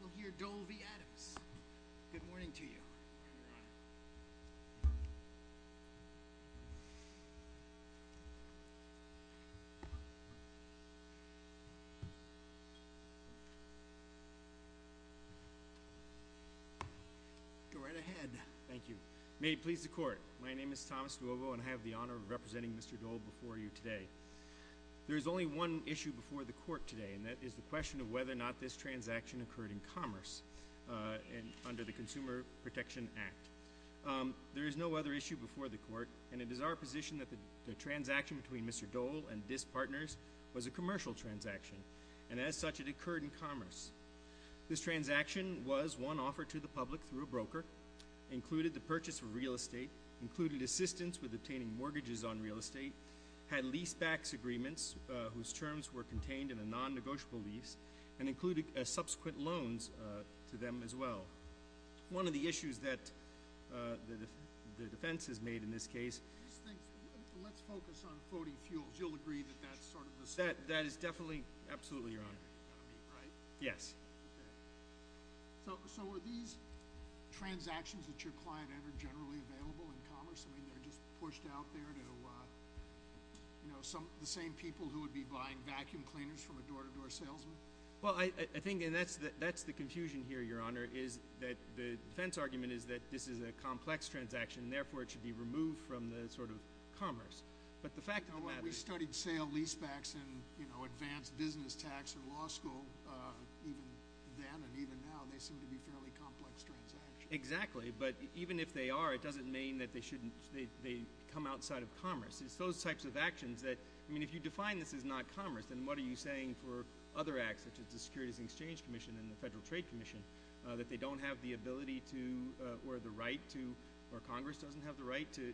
We'll hear Dole v. Adams. Good morning to you. Go right ahead. Thank you. May it please the court, my name is Thomas Duobo and I have the honor of representing Mr. Dole before you today. There is only one issue before the court today and that is the question of whether or not this transaction occurred in commerce and under the Consumer Protection Act. There is no other issue before the court and it is our position that the transaction between Mr. Dole and DISS partners was a commercial transaction and as such it occurred in commerce. This transaction was one offered to the public through a broker, included the purchase of real estate, included assistance with obtaining mortgages on real estate, had lease backs agreements whose terms were contained in a non-negotiable lease, and included subsequent loans to them as well. One of the issues that the defense has made in this case... Let's focus on floating fuels. You'll agree that that's sort of the... That is definitely, absolutely, your honor. Yes. So are these transactions that your client entered generally available in commerce? I mean, they're just pushed out there to, you know, the same people who are the cleaners from a door-to-door salesman? Well, I think, and that's the confusion here, your honor, is that the defense argument is that this is a complex transaction and therefore it should be removed from the, sort of, commerce. But the fact of the matter... We studied sale lease backs in, you know, advanced business tax or law school, even then and even now, they seem to be fairly complex transactions. Exactly, but even if they are, it doesn't mean that they shouldn't, they come outside of commerce. It's those types of actions that, I mean, if you define this as not commerce, then what are you saying for other acts, such as the Securities and Exchange Commission and the Federal Trade Commission, that they don't have the ability to, or the right to, or Congress doesn't have the right to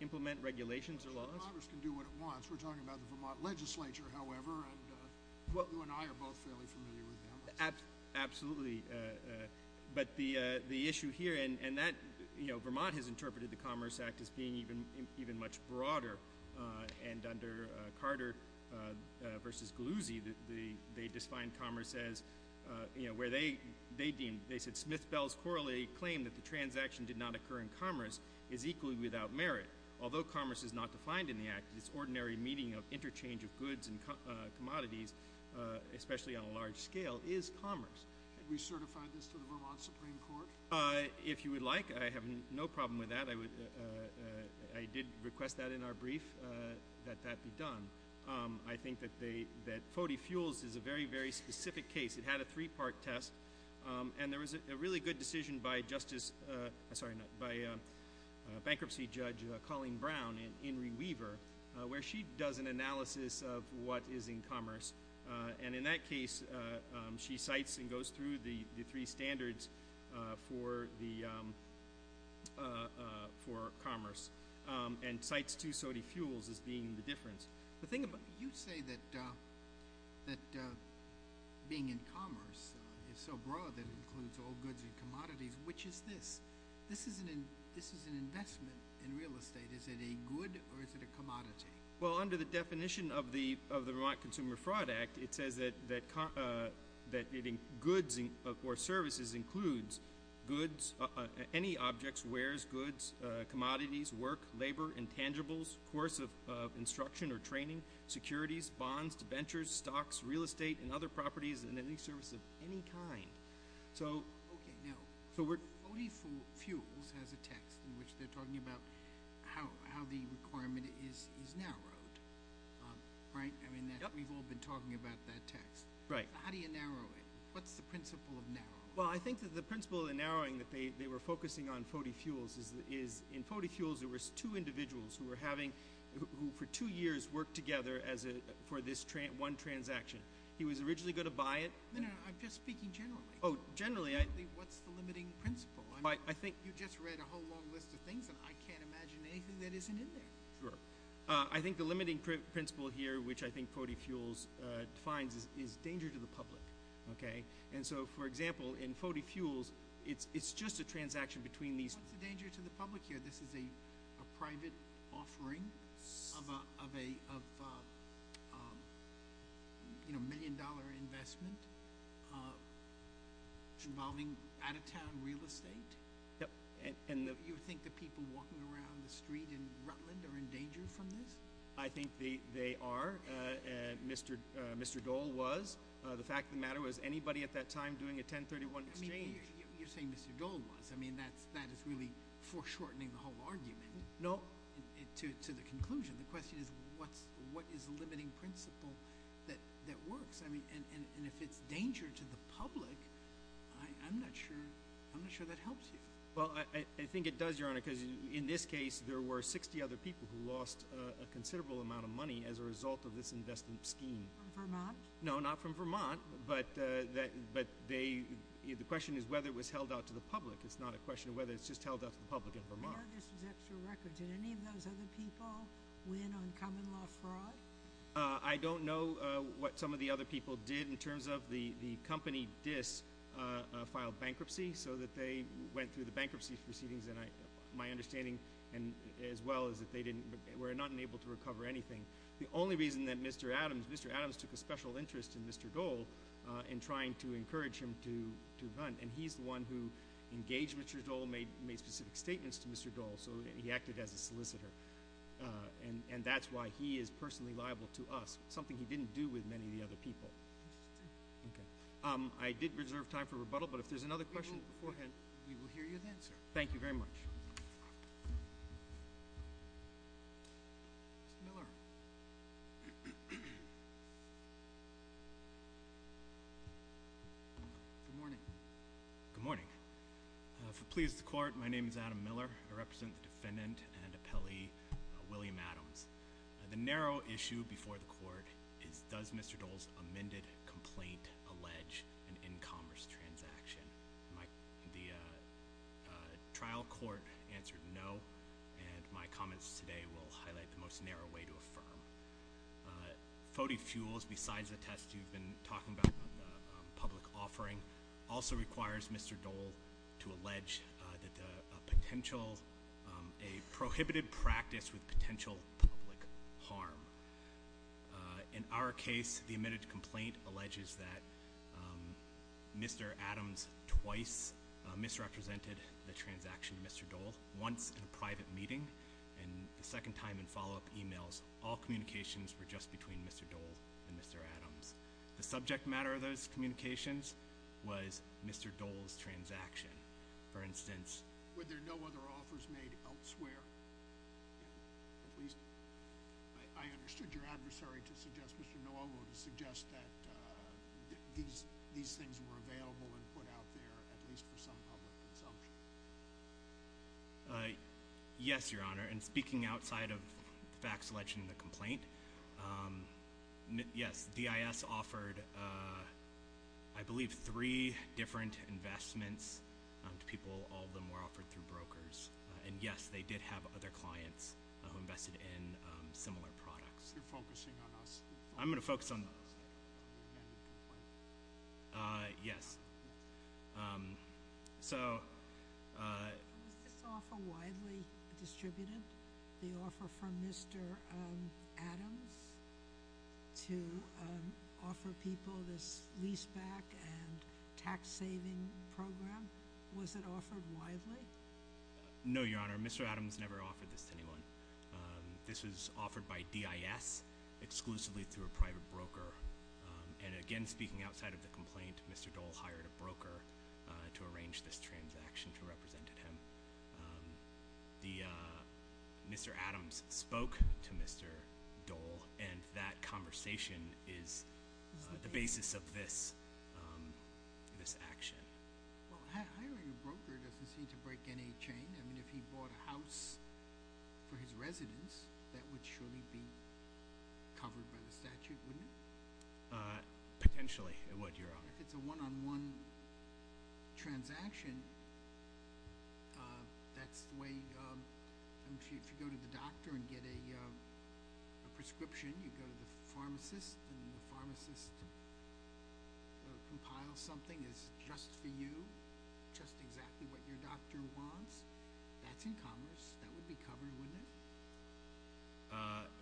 implement regulations or laws? Congress can do what it wants. We're talking about the Vermont Legislature, however, and you and I are both fairly familiar with them. Absolutely, but the issue here, and that, you know, Vermont has interpreted the Commerce Act as being even much broader, and under Carter versus Galluzzi, they defined commerce as, you know, where they deemed, they said, Smith-Bell's Corollary claimed that the transaction did not occur in commerce is equally without merit. Although commerce is not defined in the Act, its ordinary meaning of interchange of goods and commodities, especially on a large scale, is commerce. Have we certified this to the Vermont Supreme Court? If you would like, I have no problem with that. I would, I did request that in our brief, that that be done. I think that they, that Fody Fuels is a very, very specific case. It had a three-part test, and there was a really good decision by Justice, sorry, by Bankruptcy Judge Colleen Brown and Inri Weaver, where she does an analysis of what is in commerce, and in that case, she cites and goes through the three standards for the, for commerce, and cites to Fody Fuels as being the difference. You say that being in commerce is so broad that it includes all goods and commodities. Which is this? This is an investment in real estate. Is it a good or is it a commodity? Well, under the definition of the, of the Vermont Consumer Fraud Act, it says that, that, that goods or services includes goods, any objects, wares, goods, commodities, work, labor, intangibles, course of instruction or training, securities, bonds, ventures, stocks, real estate, and other properties, and any service of any kind. So. Okay, now, Fody Fuels has a text in which they're talking about how, how the requirement is, is narrowed, right? I mean, we've all been talking about that text. Right. How do you narrow it? What's the principle of narrowing? Well, I think that the principle of narrowing that they, they were focusing on Fody Fuels is, is in Fody Fuels, there was two individuals who were having, who for two years worked together as a, for this one transaction. He was originally going to buy it. No, no, I'm just speaking generally. Oh, generally, I. What's the limiting principle? I, I think. You just read a whole long list of things and I can't imagine anything that isn't in there. Sure. I think the limiting principle here, which I think Fody Fuels defines, is, is danger to the public. Okay. And so, for example, in Fody Fuels, it's, it's just a transaction between these. What's the danger to the public here? This is a, a private offering of a, of a, of a, you know, million-dollar investment involving out-of-town real estate? Yep. And, and the. You think the people walking around the street in Rutland are in danger from this? I think they, they are. Mr., Mr. Dole was. The fact of the matter was anybody at that time doing a 1031 exchange. You're saying Mr. Dole was. I mean, that's, that is really foreshortening the whole argument. No. To, to the conclusion. The question is, what's, what is the limiting principle that, that works? I mean, and, and, and if it's danger to the public, I, I'm not sure, I'm not sure that helps you. Well, I, I think it does, Your Honor, because in this case, there were 60 other people who lost a, a considerable amount of money as a result of this investment scheme. From Vermont? No, not from Vermont. But, that, but they, the question is whether it was held out to the public. It's not a question of whether it's just held out to the public in Vermont. I know this is extra record. Did any of those other people win on common law fraud? I don't know what some of the other people did in terms of the, the company, DISS, filed bankruptcy so that they went through the bankruptcy proceedings and I, my understanding as well is that they didn't, were not able to recover anything. The only reason that Mr. Adams, Mr. Adams took a special interest in Mr. Dole in trying to encourage him to, to run and he's the one who engaged Mr. Dole, made, made specific statements to Mr. Dole, so he acted as a solicitor. And, and that's why he is personally liable to us, something he didn't do with many of the other people. Okay. I did reserve time for rebuttal, but if there's another question beforehand. We will hear you then, sir. Thank you very much. Mr. Miller. Good morning. Good morning. If it pleases the court, my name is Adam Miller. I represent the defendant and appellee, William Adams. The narrow issue before the court is does Mr. Dole's amended complaint allege an in-commerce transaction? My, the trial court answered no, and my comments today will highlight the most narrow way to affirm. Foddy Fuels, besides the test you've been talking about on the public offering, also requires Mr. Dole to allege that a potential, a prohibited practice with potential public harm. In our case, the amended complaint alleges that Mr. Adams twice misrepresented the transaction to Mr. Dole, once in a private meeting. And the second time in follow-up emails, all communications were just between Mr. Dole and Mr. Adams. The subject matter of those communications was Mr. Dole's transaction. For instance- Were there no other offers made elsewhere? At least, I understood your adversary to suggest, Mr. Nolgo, to suggest that these things were available and put out there, at least for some public consumption. Yes, Your Honor, and speaking outside of the fact selection in the complaint, yes, DIS offered, I believe, three different investments to people, all of them were other clients who invested in similar products. You're focusing on us. I'm going to focus on those. Yes, so- Was this offer widely distributed, the offer from Mr. Adams to offer people this lease-back and tax-saving program? Was it offered widely? No, Your Honor, Mr. Adams never offered this to anyone. This was offered by DIS exclusively through a private broker. And again, speaking outside of the complaint, Mr. Dole hired a broker to arrange this transaction to represent him. Mr. Adams spoke to Mr. Dole, and that conversation is the basis of this action. Well, hiring a broker doesn't seem to break any chain. I mean, if he bought a house for his residence, that would surely be covered by the statute, wouldn't it? Potentially, it would, Your Honor. If it's a one-on-one transaction, that's the way- if you go to the doctor and get a just-exactly-what-your-doctor-wants, that's in commerce, that would be covered, wouldn't it?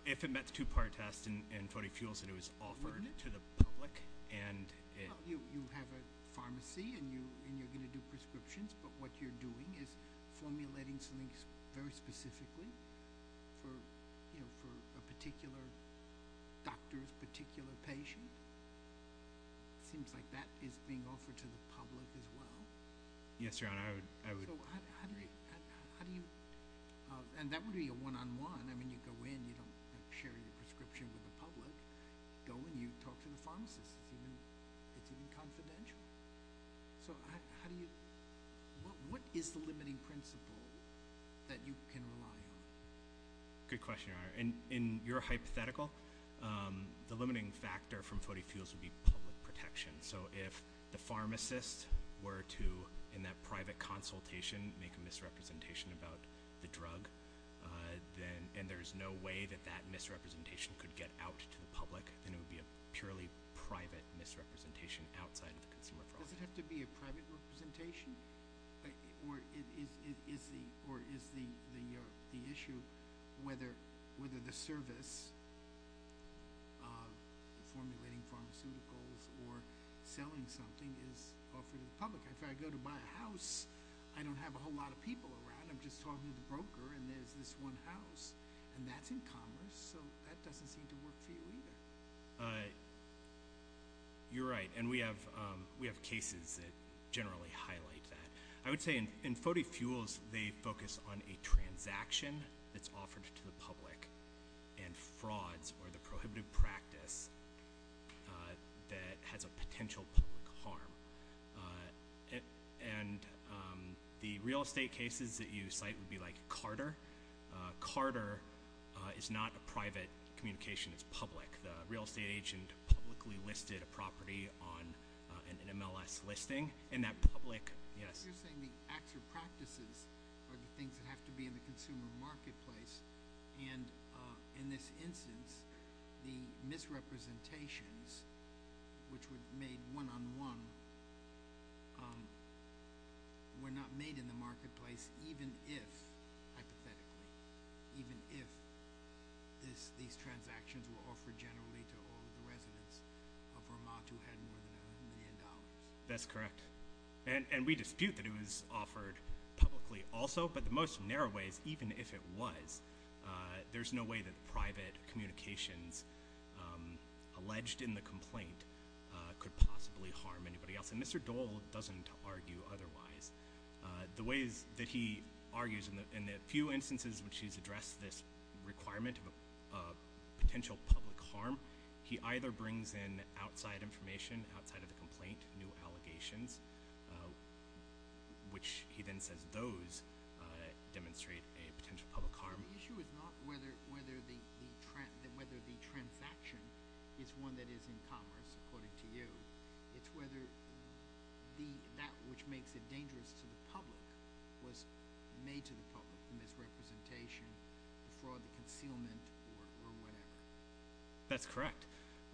If it met the two-part test and 40 fuels, it was offered to the public, and it- You have a pharmacy, and you're going to do prescriptions, but what you're doing is formulating something very specifically for a particular doctor's particular patient. It seems like that is being offered to the public as well. Yes, Your Honor, I would- So how do you- and that would be a one-on-one. I mean, you go in, you don't share your prescription with the public. You go in, you talk to the pharmacist. It's even confidential. So how do you- what is the limiting principle that you can rely on? Good question, Your Honor. In your hypothetical, the limiting factor from 40 fuels would be public protection. So if the pharmacist were to, in that private consultation, make a misrepresentation about the drug, and there's no way that that misrepresentation could get out to the public, then it would be a purely private misrepresentation outside of the consumer process. Does it have to be a private representation, or is the issue whether the service of formulating pharmaceuticals or selling something is offered to the public? If I go to buy a house, I don't have a whole lot of people around. I'm just talking to the broker, and there's this one house, and that's in commerce. So that doesn't seem to work for you either. Uh, you're right. And we have, um, we have cases that generally highlight that. I would say in 40 fuels, they focus on a transaction that's offered to the public, and frauds are the prohibitive practice, uh, that has a potential public harm. Uh, and, um, the real estate cases that you cite would be like Carter. Uh, Carter is not a private communication. It's public. The real estate agent publicly listed a property on, uh, an MLS listing, and that public, yes. You're saying the acts or practices are the things that have to be in the consumer marketplace, and, uh, in this instance, the misrepresentations, which were made one-on-one, um, were not made in the marketplace even if, hypothetically, even if this, these transactions were offered generally to all the residents of Vermont who had more than a million dollars. That's correct. And, and we dispute that it was offered publicly also, but the most narrow ways, even if it was, uh, there's no way that private communications, um, alleged in the complaint, uh, could possibly harm anybody else. And Mr. Dole doesn't argue otherwise. Uh, the ways that he argues in the, in the few instances which he's in, uh, address this requirement of a, uh, potential public harm, he either brings in outside information, outside of the complaint, new allegations, uh, which he then says those, uh, demonstrate a potential public harm. The issue is not whether, whether the, the, whether the transaction is one that is in commerce, according to you. It's whether the, that which makes it dangerous to the public was made to the public in this representation, the fraud, the concealment, or, or whatever. That's correct.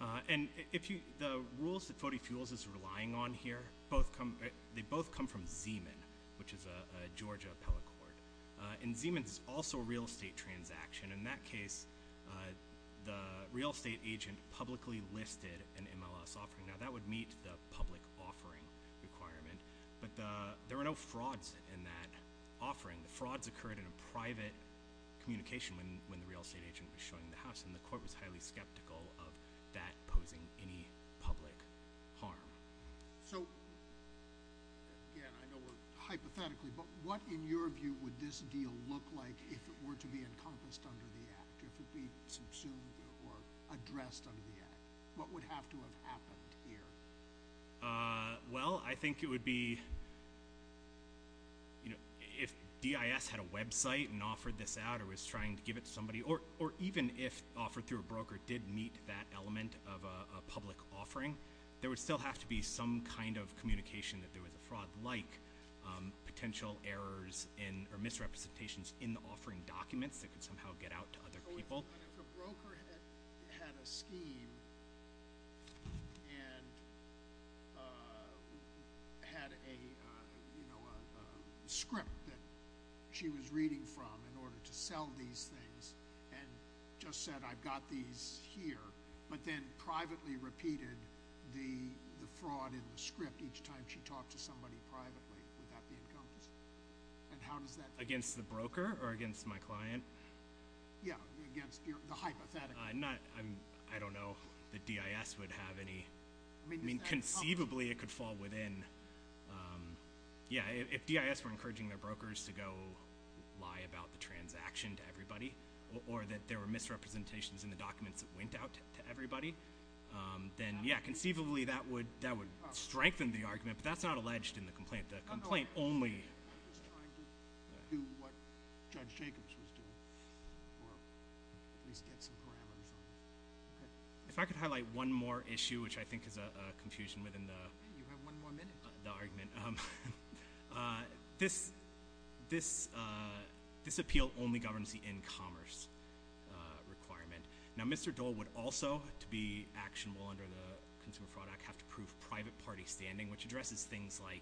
Uh, and if you, the rules that Fote Fuels is relying on here, both come, they both come from Zeman, which is a, a Georgia appellate court. Uh, and Zeman's is also a real estate transaction. In that case, uh, the real estate agent publicly listed an MLS offering. Now, that would meet the public offering requirement, but the, there were no frauds in that offering. The frauds occurred in a private communication when, when the real estate agent was showing the house, and the court was highly skeptical of that posing any public harm. So, yeah, I know we're hypothetically, but what, in your view, would this deal look like if it were to be encompassed under the Act? If it would be assumed, or addressed under the Act? What would have to have happened here? Uh, well, I think it would be, you know, if DIS had a website and offered this out, or was trying to give it to somebody, or, or even if offered through a broker did meet that element of a, a public offering, there would still have to be some kind of communication that there was a fraud like, um, potential errors in, or misrepresentations in the offering documents that could somehow get out to other people. So, if a broker had a scheme, and, uh, had a, uh, you know, a, a script that she was reading from in order to sell these things, and just said, I've got these here, but then privately repeated the, the fraud in the script each time she talked to somebody privately, would that be encompassed? And how does that? Against the broker, or against my client? Yeah, against your, the hypothetical. Uh, not, I'm, I don't know that DIS would have any, I mean, conceivably it could fall within, um, yeah, if, if DIS were encouraging their brokers to go lie about the transaction to everybody, or, or that there were misrepresentations in the documents that went out to, to everybody, um, then, yeah, conceivably that would, that would strengthen the argument, but that's not alleged in the complaint. The complaint only... ...doesn't do what Judge Jacobs was doing, or at least get some parameters on this. Ok. If I could highlight one more issue, which I think is a, a confusion within the... Yeah, you have one more minute. The argument. Um, uh, this, this, uh, this appeal only governs the in-commerce requirement. Now, Mr. Dole would also, to be actionable under the Consumer Fraud Act, have to prove private party standing, which addresses things like,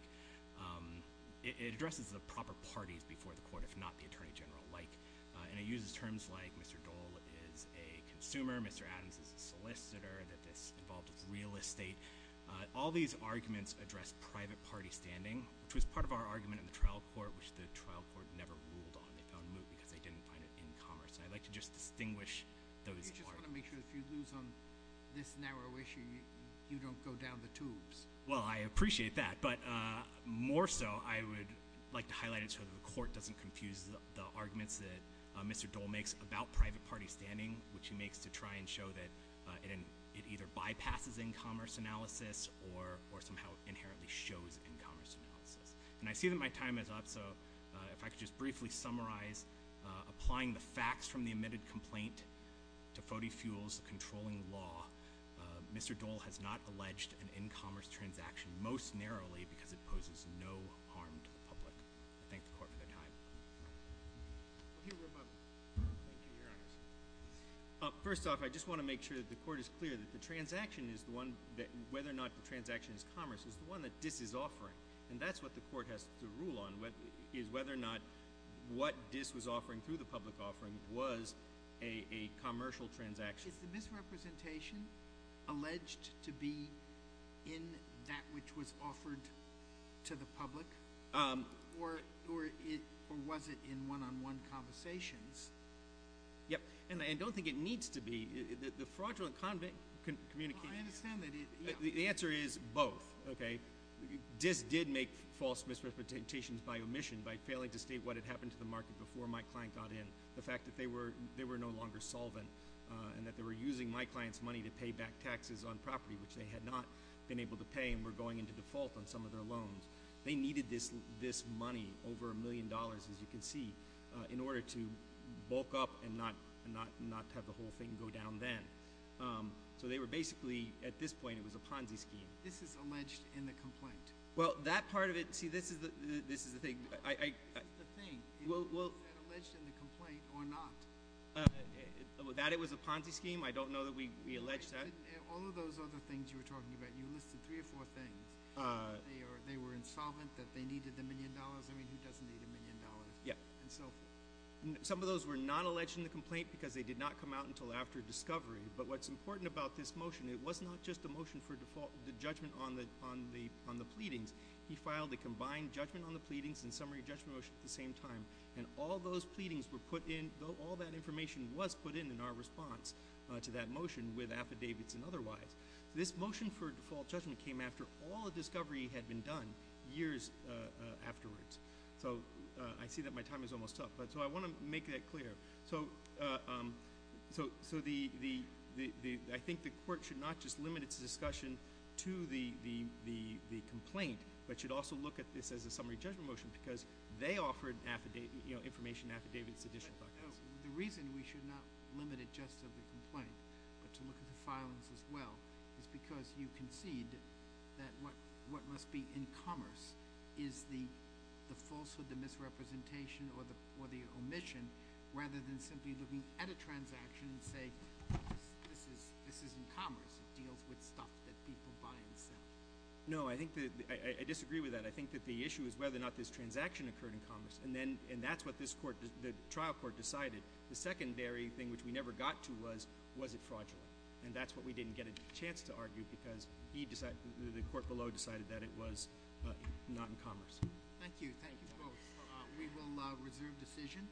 um, it, it addresses the proper parties before the court, if not the Attorney General, like, uh, and it uses terms like, Mr. Dole is a consumer. Mr. Adams is a solicitor, that this involved real estate. Uh, all these arguments address private party standing, which was part of our argument in the trial court, which the trial court never ruled on. They found moot because they didn't find it in-commerce. And I'd like to just distinguish those arguments. You just want to make sure if you lose on this narrow issue, you, you don't go down the tubes. Well, I appreciate that, but, uh, more so, I would like to highlight it so that the court doesn't confuse the, the arguments that, uh, Mr. Dole makes about private party standing, which he makes to try and show that, uh, it, it either bypasses in-commerce analysis or, or somehow inherently shows in-commerce analysis. And I see that my time is up, so, uh, if I could just briefly summarize, uh, applying the facts from the omitted complaint to Foddy Fuels, the controlling law, uh, Mr. Dole has not alleged an in-commerce transaction, most narrowly because it poses no harm to the public. I thank the court for their time. I'll hear from my, thank you, Your Honor. Uh, first off, I just want to make sure that the court is clear that the transaction is the one that, whether or not the transaction is commerce, is the one that DIS is offering. And that's what the court has to rule on, what, is whether or not what DIS was offering through the public offering was a, a commercial transaction. Is the misrepresentation alleged to be in that which was offered to the public? Um. Or, or it, or was it in one-on-one conversations? Yep. And, and I don't think it needs to be. The, the, the fraudulent convict can communicate. Well, I understand that it, yeah. The, the answer is both, okay? DIS did make false misrepresentations by omission by failing to state what had happened to the market before my client got in. The fact that they were, they were no longer solvent, uh, and that they were using my client's money to pay back taxes on property, which they had not been able to pay and were going into default on some of their loans. They needed this, this money, over a million dollars, as you can see, uh, in order to bulk up and not, and not, not have the whole thing go down then. Um, so they were basically, at this point, it was a Ponzi scheme. This is alleged in the complaint. Well, that part of it, see, this is the, this is the thing, I, I, I. The thing. Well, well. Is that alleged in the complaint or not? That it was a Ponzi scheme? I don't know that we, we alleged that. All of those other things you were talking about, you listed three or four things. Uh. They were insolvent, that they needed the million dollars. I mean, who doesn't need a million dollars? Yeah. And so. Some of those were not alleged in the complaint because they did not come out until after discovery. But what's important about this motion, it was not just a motion for default, the judgment on the, on the, on the pleadings. He filed a combined judgment on the pleadings and summary judgment motion at the same time. And all those pleadings were put in, all that information was put in in our response, uh, to that motion with affidavits and otherwise. This motion for default judgment came after all the discovery had been done years, uh, uh, afterwards. So, uh, I see that my time is almost up. But, so I want to make that clear. So, uh, um, so, so the, the, the, the, I think the court should not just limit its discussion to the, the, the, the complaint. But should also look at this as a summary judgment motion. Because they offered affidavit, you know, information affidavits and additional documents. So, the reason we should not limit it just to the complaint, but to look at the filings as well, is because you concede that what, what must be in commerce is the, the falsehood, the misrepresentation, or the, or the omission, rather than simply looking at a transaction and say, this is, this is in commerce. It deals with stuff that people buy and sell. No, I think that, I, I disagree with that. I think that the issue is whether or not this transaction occurred in commerce. And then, and that's what this court, the trial court decided. The secondary thing which we never got to was, was it fraudulent? And that's what we didn't get a chance to argue because he decided, the court below decided that it was not in commerce. Thank you, thank you both. We will reserve decision.